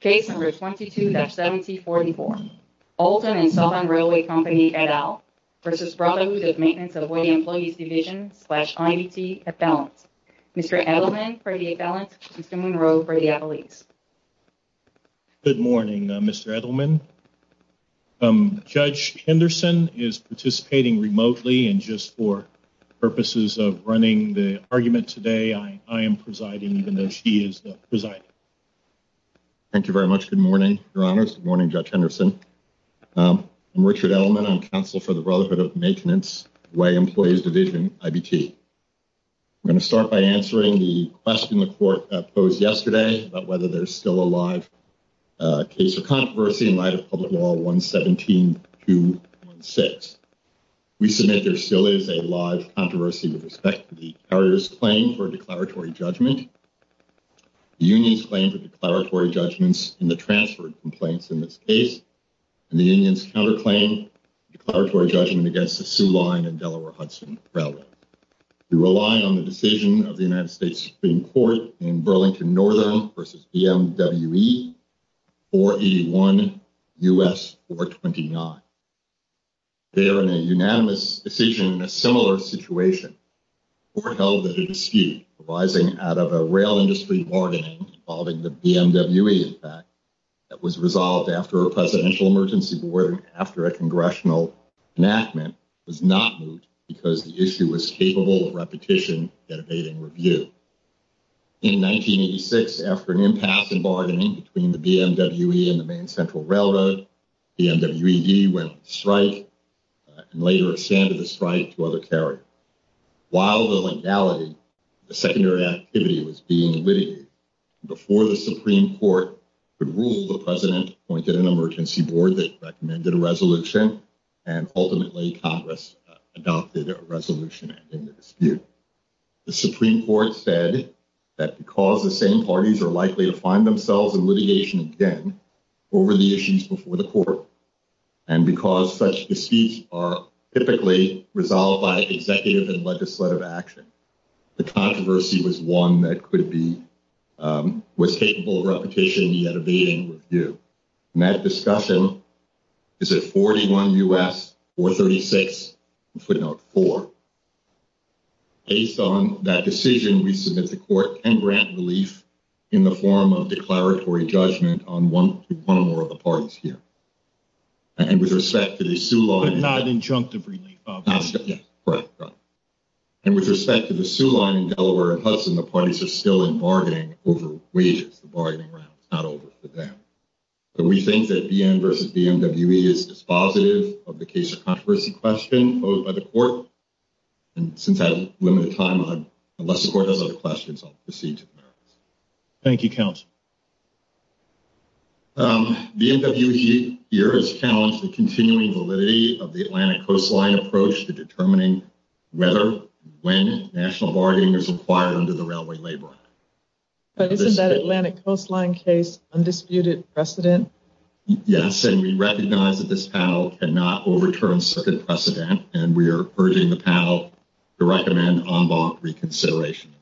Case number 22-7044, Alton & Southern Railway Company et al. v. Brotherhood of Maintenance of Way Employees Division slash IDT et al. Mr. Edelman for the et al. Mr. Munroe for the at-lease. Good morning Mr. Edelman. Judge Henderson is participating remotely and just for purposes of running the argument today I am presiding even though she is the presiding. Thank you very much. Good morning, your honors. Good morning, Judge Henderson. I'm Richard Edelman. I'm counsel for the Brotherhood of Maintenance Way Employees Division IBT. I'm going to start by answering the question the court posed yesterday about whether there's still a live case or controversy in light of Public Law 117-216. We submit there still is a live controversy with respect to the carrier's claim for declaratory judgment. The union's claim for declaratory judgments in the transferred complaints in this case and the union's counter claim declaratory judgment against the Soo Line and Delaware-Hudson Railway. We rely on the decision of the United States Supreme Court in Burlington Northern v. BMWE 4E1 U.S. 429. They are in a unanimous decision in a similar situation. The court held that a dispute arising out of a rail industry bargaining involving the BMWE in fact that was resolved after a presidential emergency board after a congressional enactment was not moved because the issue was capable of repetition yet evading review. In 1986, after an impasse in bargaining between the BMWE and the main central railroad, BMWED went on strike and later extended the strike to other carriers. While the legality the secondary activity was being litigated before the Supreme Court could rule the president appointed an emergency board that recommended a resolution and ultimately Congress adopted a resolution ending the dispute. The Supreme Court said that because the same parties are likely to find themselves in litigation again over the issues before the court and because such disputes are typically resolved by executive and legislative action. The controversy was one that could be was capable of repetition yet evading review and that discussion is at 41 U.S. 436 footnote 4. Based on that decision we submit the court and grant relief in the form of declaratory judgment on one one or more of the parties here and with respect to the Sioux line not injunctive relief and with respect to the Sioux line in Delaware and Hudson the parties are still in bargaining over wages the bargaining round it's not over for them but we think that BM versus BMWE is dispositive of the case of controversy question posed by the court and since I have limited time unless the court has other questions I'll proceed to the merits. Thank you counsel. The MW here has challenged the continuing validity of the Atlantic coastline approach to determining whether when national bargaining is required under the Railway Labor Act. But isn't that Atlantic coastline case undisputed precedent? Yes and we recognize that this panel cannot overturn certain precedent and we are urging the panel to recommend en banc reconsideration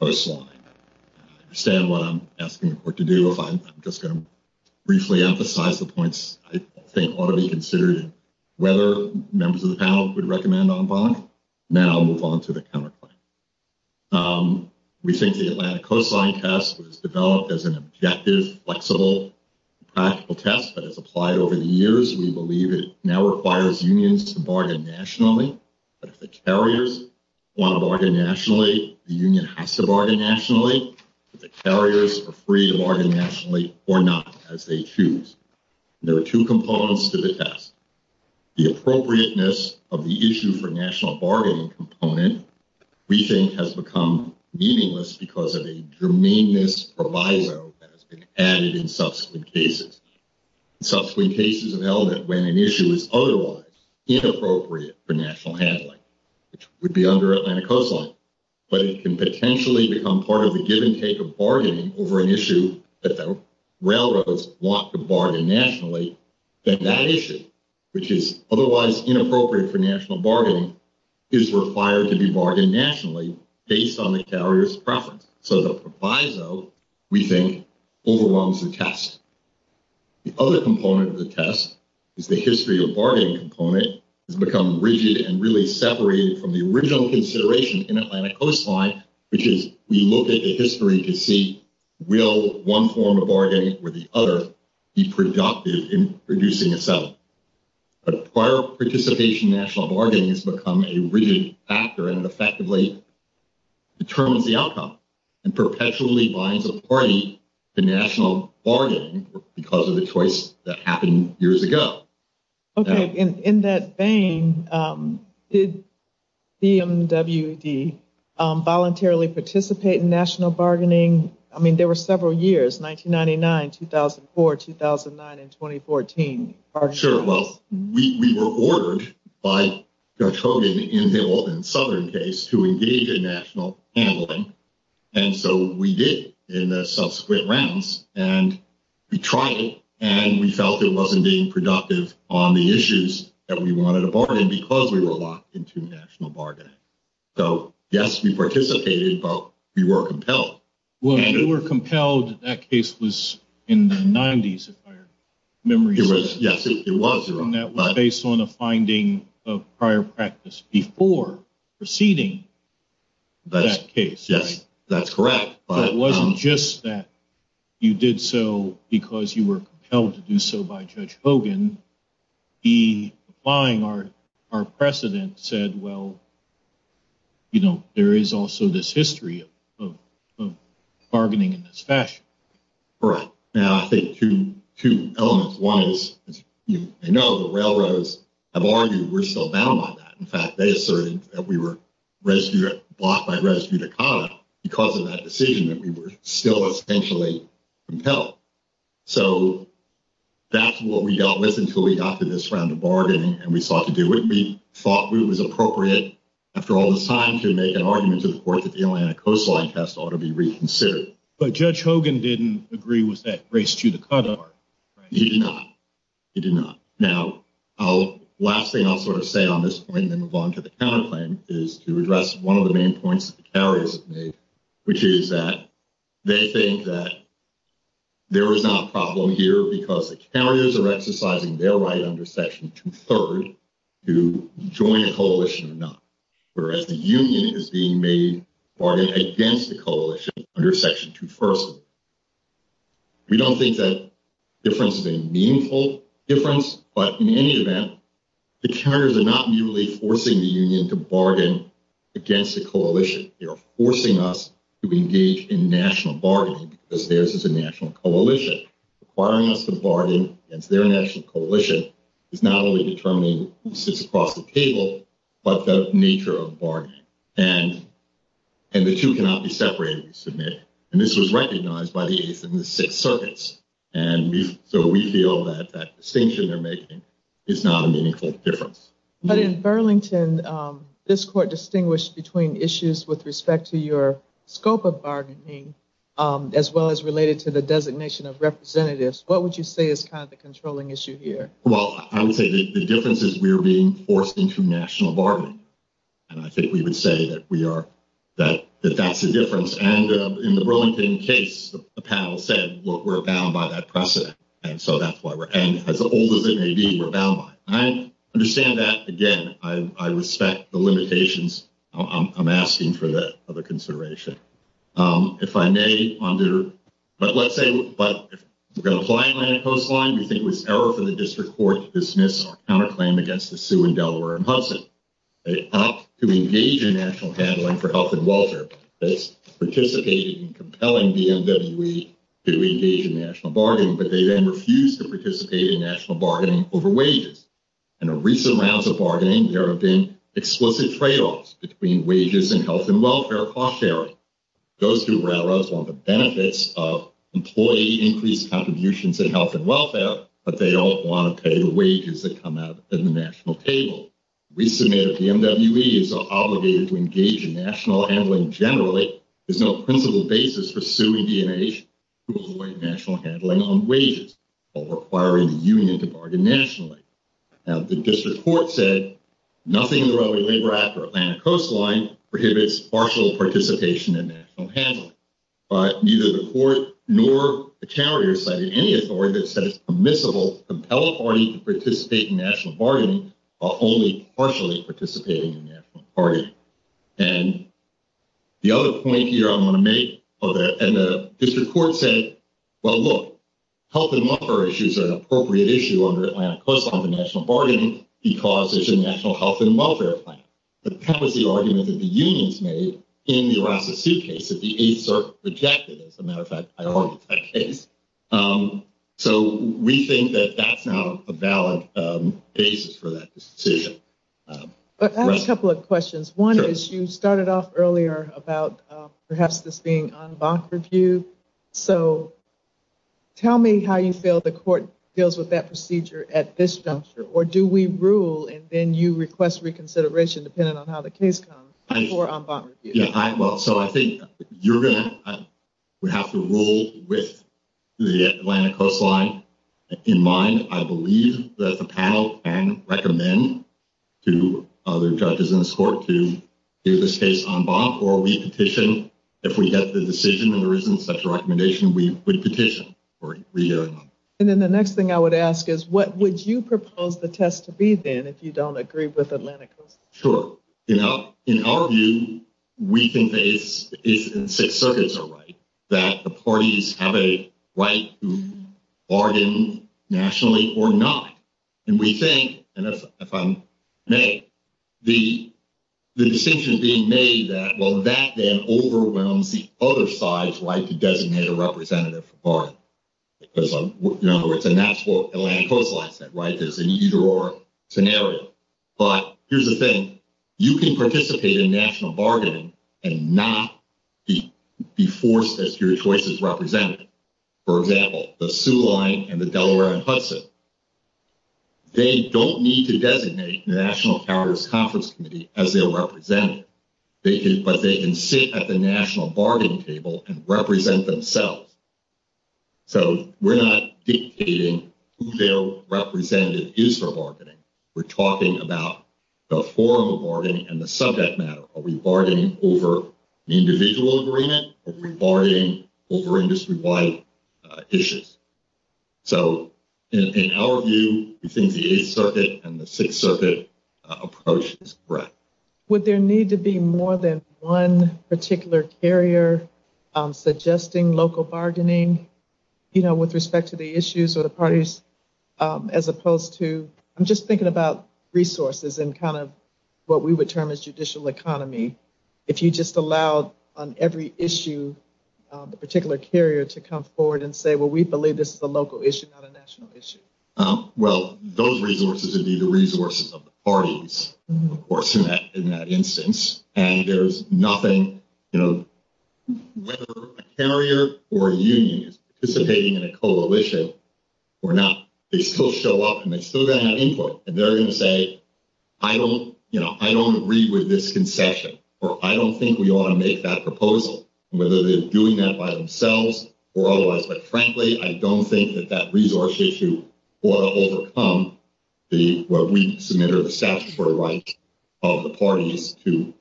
coastline. I understand what I'm asking the court to do if I'm just going to briefly emphasize the points I think ought to be considered whether members of the panel would recommend en banc then I'll move on to the counterclaim. We think the Atlantic coastline test was developed as an objective flexible practical test that has applied over the years we believe it now requires unions to bargain nationally but if the carriers want to bargain nationally the union has to bargain nationally if the carriers are free to bargain nationally or not as they choose. There are two components to the test the appropriateness of the issue for national bargaining component we think has become meaningless because of a germane misproviso that has been added in national handling which would be under Atlantic coastline but it can potentially become part of the give and take of bargaining over an issue that the railroads want to bargain nationally then that issue which is otherwise inappropriate for national bargaining is required to be bargained nationally based on the carrier's preference so the proviso we think overwhelms the test. The other component of the test is the history of bargaining component has become rigid and really separated from the original consideration in Atlantic coastline which is we look at the history to see will one form of bargaining with the other be productive in producing itself but prior participation national bargaining has become a rigid factor and effectively determines the outcome and perpetually binds a party to national bargaining because of the choice that happened years ago. Okay in that vein did BMWD voluntarily participate in national bargaining I mean there were several years 1999, 2004, 2009, and 2014. Sure well we were ordered by Judge Hogan in Hill and Southern case to engage in national handling and so we did in the subsequent rounds and we tried and we felt it wasn't being productive on the issues that we wanted to bargain because we were locked into national bargaining so yes we participated but we were compelled. Well you were compelled that case was in the 90s if I remember. It was yes it was based on a finding of prior practice before proceeding that case yes that's correct but it wasn't just that you did so because you were compelled to do so by Judge Hogan he applying our precedent said well you know there is also this history of bargaining in this fashion. All right now I think two two elements one is as you may know the railroads have argued we're still bound by that in fact they asserted that we were rescued blocked by res judicata because of that decision that we were still essentially compelled so that's what we dealt with until we got to this round of bargaining and we sought to do it we thought it was appropriate after all this time to make an argument to the court that the Atlanta coastline test ought to be reconsidered. But Judge Hogan didn't agree with that res judicata. He did not he did not. Now I'll last thing I'll sort of say on this point and then move on to the counterclaim is to address one of the main points the carriers have made which is that they think that there is not a problem here because the carriers are exercising their right under section two third to join a coalition or not we don't think that difference is a meaningful difference but in any event the carriers are not merely forcing the union to bargain against the coalition they are forcing us to engage in national bargaining because theirs is a national coalition requiring us to bargain against their national coalition is not only determining who sits across the table but the nature of bargaining and and the two cannot be separated we submit and this was recognized by the eighth and the sixth circuits and we so we feel that that distinction they're making is not a meaningful difference. But in Burlington this court distinguished between issues with respect to your scope of bargaining as well as related to the designation of representatives what would you say is kind of the controlling issue here? Well I would say the difference is we're being forced into national bargaining and I think we would say that we are that that's the difference and in the Burlington case the panel said we're bound by that precedent and so that's why we're and as old as it may be we're bound by it. I understand that again I respect the limitations I'm asking for the other consideration. If I may under but let's say but if we're going to apply land coastline we think it was error for the district court to dismiss our counterclaim against the Hudson. They opt to engage in national handling for health and welfare that's participating in compelling BMWE to engage in national bargaining but they then refuse to participate in national bargaining over wages. In a recent rounds of bargaining there have been explicit trade-offs between wages and health and welfare cost sharing. Those who rather want the benefits of employee increased contributions in health and welfare but they don't want to pay the wages that come out in the national table. We submit a BMWE is obligated to engage in national handling generally there's no principle basis for suing D.N.H. to avoid national handling on wages while requiring the union to bargain nationally. Now the district court said nothing in the Railway Labor Act or Atlanta coastline prohibits partial participation in national handling but neither the court nor the carrier cited any authority that says permissible compel a party to participate in national bargaining while only partially participating in national bargaining. And the other point here I'm going to make and the district court said well look health and welfare issues are an appropriate issue under Atlanta coastline for national bargaining because it's a national health and welfare plan. But that was the argument that the unions made in the Arasa Sioux case that the eighth circuit rejected as a matter of fact I argued that case. So we think that that's not a valid basis for that decision. But that's a couple of questions one is you started off earlier about perhaps this being en banc review so tell me how you feel the court deals with that procedure at this juncture or do we rule and then you request reconsideration depending on how the case comes before en banc review. Yeah well so I think you're gonna we have to rule with the Atlanta coastline in mind I believe that the panel can recommend to other judges in this court to hear this case en banc or we petition if we get the decision and there isn't such a recommendation we would petition. And then the next thing I would ask is what would you you know in our view we think that it's it's in six circuits are right that the parties have a right to bargain nationally or not and we think and that's if I'm made the the distinction being made that well that then overwhelms the other side's right to designate a representative for because you know it's a national Atlanta coastline right there's an either or scenario but here's the thing you can participate in national bargaining and not be forced as your choice is represented for example the Sioux line and the Delaware and Hudson they don't need to designate the National Carriers Conference Committee as their representative they can but they can sit at the national bargaining table and represent themselves so we're not dictating who their representative is for bargaining we're talking about the form of bargaining and the subject matter are we bargaining over the individual agreement or regarding over industry-wide issues so in our view we think the eighth circuit and the sixth circuit approach is correct. Would there need to be more than one particular carrier suggesting local bargaining you know with respect to the issues or the parties as opposed to I'm just thinking about resources and kind of what we would term as judicial economy if you just allowed on every issue the particular carrier to come forward and say well we believe this is a local issue not a national issue? Well those resources would be the resources of the parties of course in that in that you know whether a carrier or a union is participating in a coalition or not they still show up and they're still going to have input and they're going to say I don't you know I don't agree with this concession or I don't think we want to make that proposal whether they're doing that by themselves or otherwise but frankly I don't think that that resource issue will overcome the what we submit or the statutory right of the parties to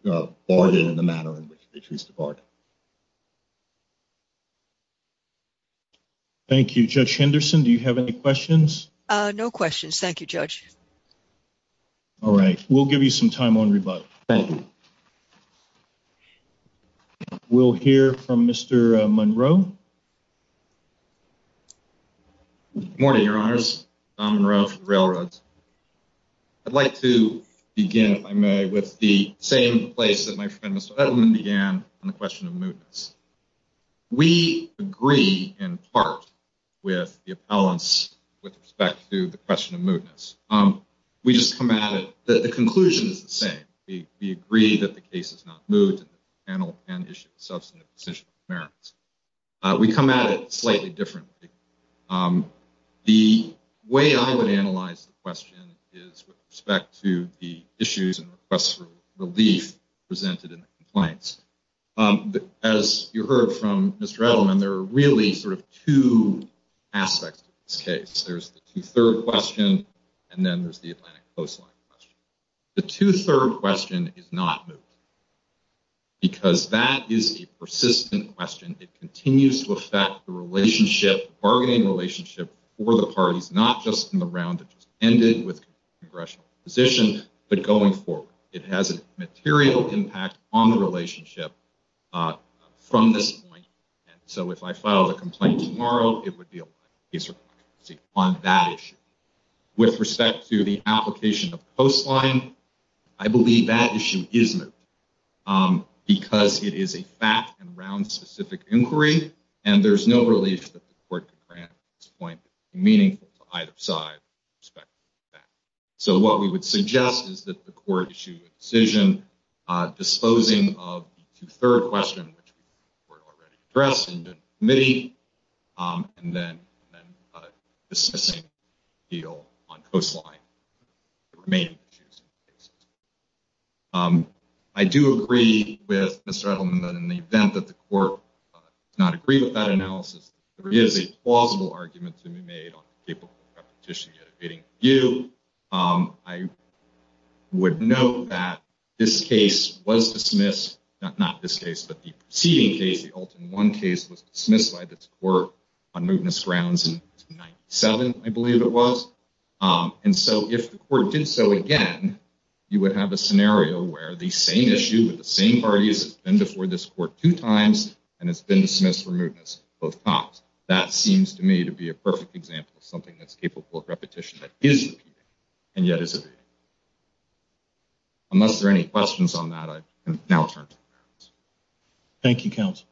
bargain in the manner in which they choose to bargain. Thank you Judge Henderson do you have any questions? No questions thank you Judge. All right we'll give you some time on rebut. Thank you. Good morning your honors. I'd like to begin if I may with the same place that my friend Mr. Edelman began on the question of mootness. We agree in part with the appellants with respect to the question of mootness. We just come at it that the conclusion is the same. We agree that the case is not moot and the panel can issue a substantive decision on the merits. We come at it slightly differently. The way I would analyze the question is with respect to the issues and requests for relief presented in the compliance. As you heard from Mr. Edelman there are really sort of two aspects of this case. There's the two-third question and then there's the Atlantic coastline the two-third question is not moot because that is a persistent question. It continues to affect the relationship bargaining relationship for the parties not just in the round that just ended with congressional position but going forward. It has a material impact on the relationship from this point and so if I file the complaint tomorrow it would be a case on that issue. With respect to the application of coastline I believe that issue is moot because it is a fact and round specific inquiry and there's no relief that the court could grant at this point meaningful to either side with respect to that. So what we would suggest is that the court issue a decision disposing of the two-third question which we've already addressed in the committee and then a dismissing deal on coastline. I do agree with Mr. Edelman that in the event that the court does not agree with that analysis there is a plausible argument to be made on capable repetition yet evading review. I would note that this case was dismissed not this case but the preceding case the Alton 1 case was dismissed by this court on mootness grounds in 1997 I believe it was and so if the court did so again you would have a scenario where the same issue with the same parties and before this court two times and it's been dismissed for mootness both times. That seems to me to be a perfect example of something that's capable of repetition that is repeating and yet evading. Unless there are any questions on that I can now turn to the merits. Thank you counsel.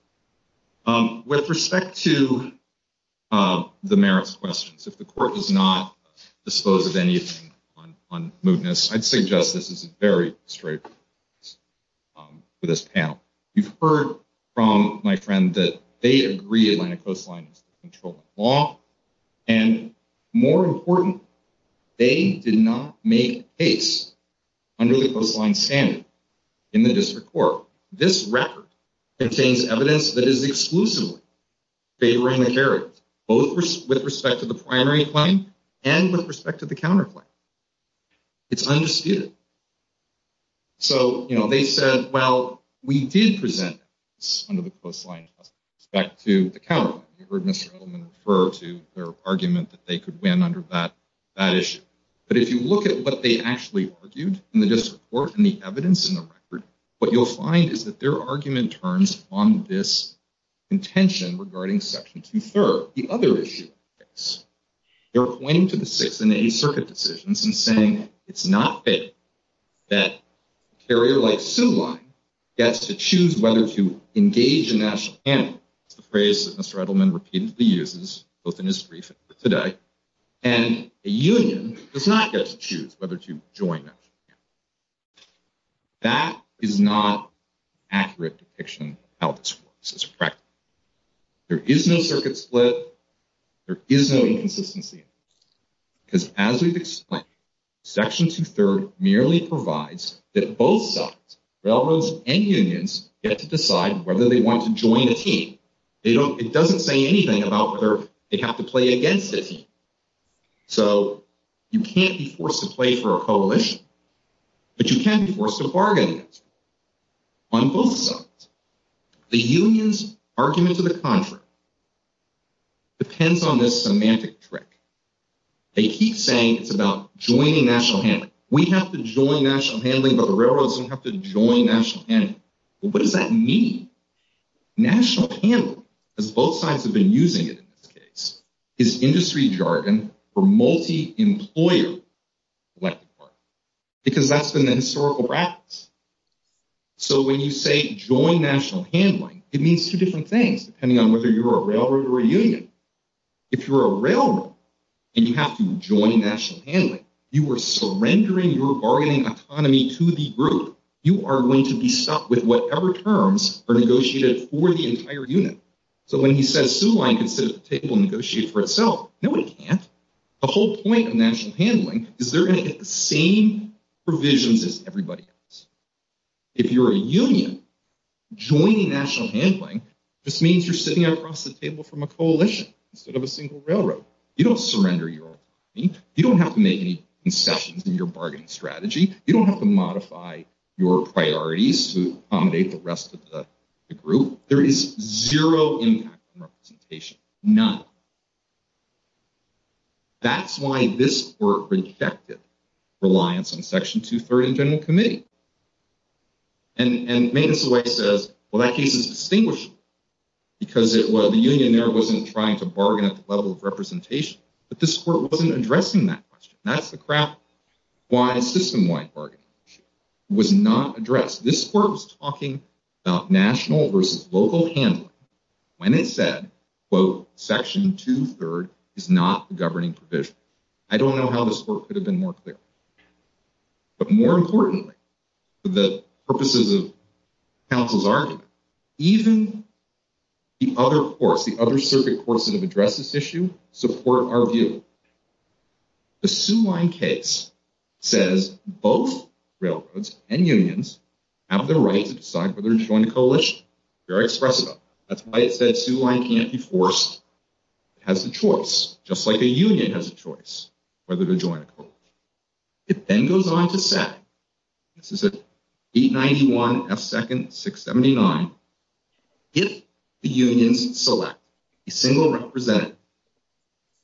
With respect to the merits questions if the court does not dispose of anything on mootness I'd suggest this is a very straight for this panel. You've heard from my friend that they agree make case under the coastline standard in the district court. This record contains evidence that is exclusively favoring the character both with respect to the primary claim and with respect to the counterclaim. It's undisputed. So you know they said well we did present this under the coastline respect to the counter. You heard Mr. Edelman refer to their argument that they could under that that issue. But if you look at what they actually argued in the district court and the evidence in the record what you'll find is that their argument turns on this contention regarding section two third. The other issue is they're pointing to the sixth and eighth circuit decisions and saying it's not fair that a carrier like Sue Line gets to choose whether to engage in national campaign. It's the phrase that Mr. Edelman repeatedly uses both in his brief and today. And a union does not get to choose whether to join national campaign. That is not an accurate depiction of how this works as a practice. There is no circuit split. There is no inconsistency because as we've explained section two third merely provides that both sides railroads and they don't it doesn't say anything about whether they have to play against it. So you can't be forced to play for a coalition but you can't be forced to bargain on both sides. The union's argument to the contrary depends on this semantic trick. They keep saying it's about joining national handling. We have to join national handling but the railroads don't have to join national handling. What does that mean? National handling as both sides have been using it in this case is industry jargon for multi-employer because that's been the historical practice. So when you say join national handling it means two different things depending on whether you're a railroad or a union. If you're a railroad and you have to join national handling you are surrendering your bargaining autonomy to the group. You are going to be stuck with whatever terms are negotiated for the entire unit. So when he says Sue Line can sit at the table and negotiate for itself nobody can't. The whole point of national handling is they're going to get the same provisions as everybody else. If you're a union joining national handling just means you're sitting across the table from a coalition instead of a single railroad. You don't surrender your autonomy. You don't have to make any concessions in your bargaining strategy. You don't have to modify your priorities to accommodate the rest of the group. There is zero impact on representation. None. That's why this work rejected reliance on section two third and general committee and maintenance away says well that case is distinguished because it was the union there wasn't trying to bargain at the level of representation but this court wasn't addressing that question. That's the crap why a system-wide bargaining was not addressed. This court was talking about national versus local handling when it said quote section two third is not the governing provision. I don't know how this work could have been more clear but more importantly the purposes of counsel's argument even the other courts the other circuit courts that have addressed this issue support our view. The Sue Lyon case says both railroads and unions have the right to decide whether to join a coalition. Very expressive. That's why it said Sue Lyon can't be forced. It has the choice just like a union has a choice whether to join a coalition. It then goes on to say this is a 891 F second 679 if the unions select a single representative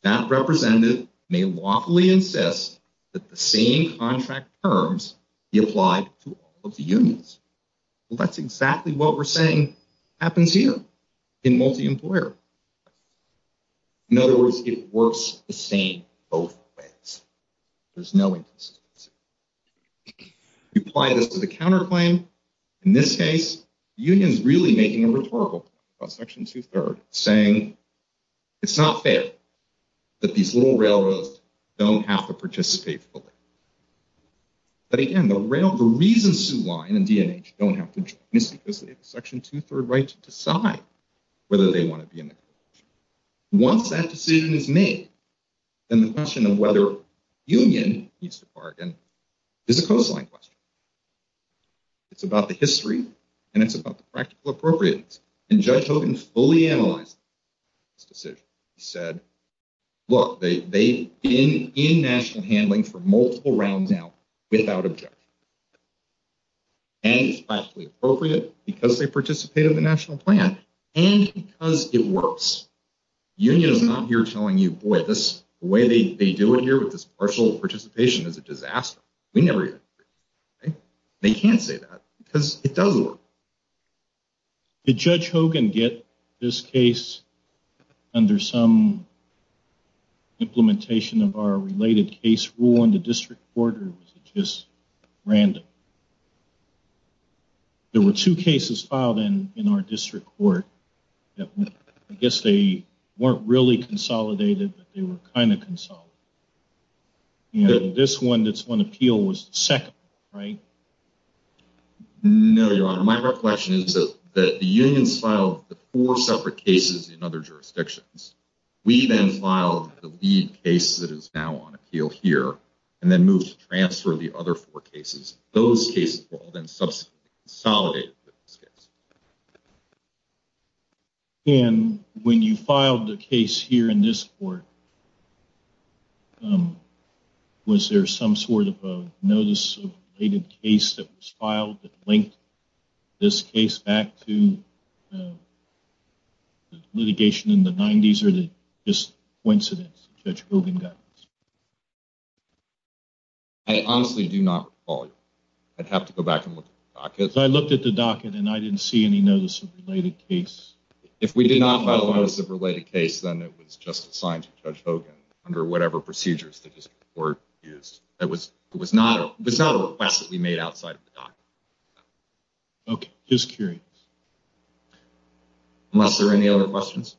that representative may lawfully insist that the same contract terms be applied to all of the unions. Well that's exactly what we're saying happens here in multi-employer. In other words it works the same both ways. There's no insistence. You apply this to the counterclaim. In this case the union is really making a rhetorical point about section two third saying it's not fair that these little railroads don't have to participate fully. But again the reason Sue Lyon and DNH don't have to join is because they have a section two third right to decide whether they want to be in the coalition. Once that decision is made then the question of whether union needs to bargain is a coastline question. It's about the history and it's about the practical appropriateness and Judge Hogan fully analyzed this decision. He said look they've been in national handling for multiple rounds out without objection and it's practically appropriate because they participate in the national plan and because it works. Union is not here telling you boy this way they they do it here with this partial participation is a disaster. We never agree. They can't say that because it does work. Did Judge Hogan get this case under some implementation of our related case rule in the district court or was it just random? There were two cases filed in in our district court that I guess they weren't really consolidated but they were kind of consolidated. You know this one that's on appeal was the second right? No your honor my reflection is that the unions filed the four separate cases in other jurisdictions. We then filed the lead case that is now on appeal here and then moved to transfer the other four cases. Those cases were all then subsequently consolidated with this case. And when you filed the case here in this court was there some sort of a notice of related case that was filed that linked this case back to the litigation in the 90s or the just coincidence Judge Hogan got? I honestly do not follow. I'd have to go back and look at the docket. I looked at the docket and I didn't see any notice of related case. If we did not file a notice of related case then it was just assigned to Judge Hogan under whatever procedures the district court used. It was not a request that the docket. Okay just curious. Unless there are any other questions?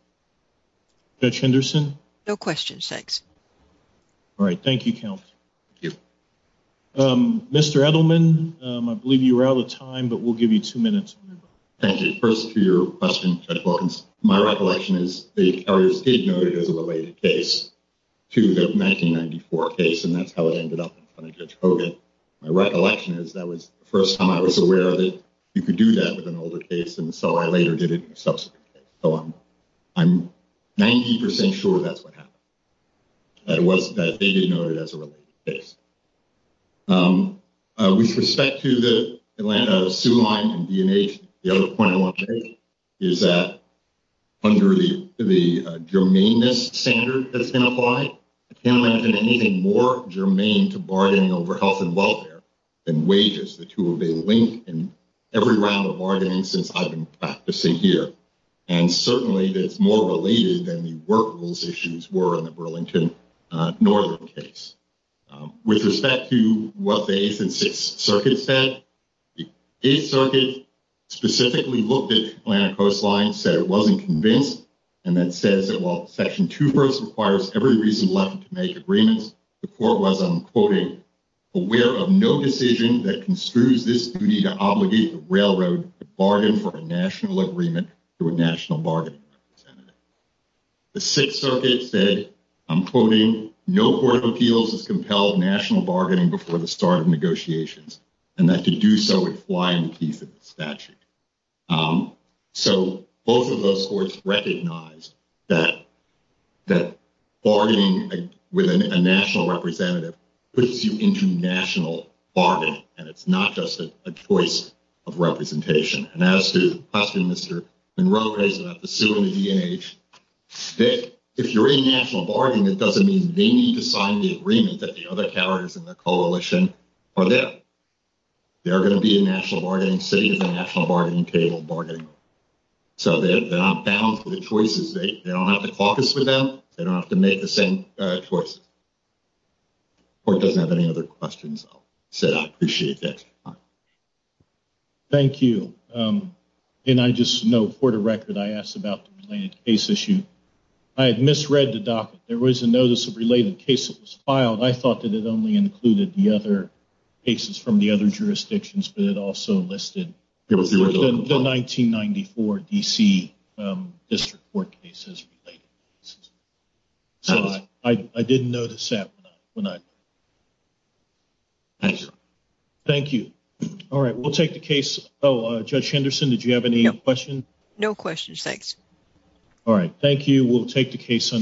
Judge Henderson? No questions thanks. All right thank you counsel. Thank you. Mr. Edelman I believe you were out of time but we'll give you two minutes. Thank you. First to your question Judge Wilkins. My recollection is the carriers did note it as a related case to the 1994 case and that's how it ended up in front of Judge Hogan. My recollection is that was the first time I was aware that you could do that with an older case and so I later did it in a subsequent case. So I'm I'm 90 percent sure that's what happened. That it was that they did note it as a related case. With respect to the Atlanta Sioux line and D&H the other point I want to make is that under the germaneness standard that's applied I can't imagine anything more germane to bargaining over health and welfare than wages. The two of a link in every round of bargaining since I've been practicing here and certainly that's more related than the work rules issues were in the Burlington Northern case. With respect to what the 8th and 6th circuits said the 8th circuit specifically looked at Atlanta coastline said it says that while section 2 first requires every reason left to make agreements the court was I'm quoting aware of no decision that construes this duty to obligate the railroad to bargain for a national agreement to a national bargaining representative. The 6th circuit said I'm quoting no court of appeals has compelled national bargaining before the start of negotiations and that to do so would fly in the piece of the statute. So both of those courts recognized that that bargaining with a national representative puts you into national bargaining and it's not just a choice of representation and as to the question Mr. Monroe raised about the Sioux and the D&H if you're in national bargaining it doesn't mean they need to sign the agreement that the carriers in the coalition are there. They are going to be a national bargaining city of the national bargaining table bargaining so they're not bound for the choices they don't have to caucus with them they don't have to make the same choices. The court doesn't have any other questions so I appreciate the extra time. Thank you and I just know for the record I asked about the related case issue. I had misread the docket there was a notice of related case that was filed I thought that it only included the other cases from the other jurisdictions but it also listed the 1994 DC district court cases. So I didn't notice that when I thank you. All right we'll take the case oh Judge Henderson did you have any questions? No questions thanks. All right thank you we'll take the case.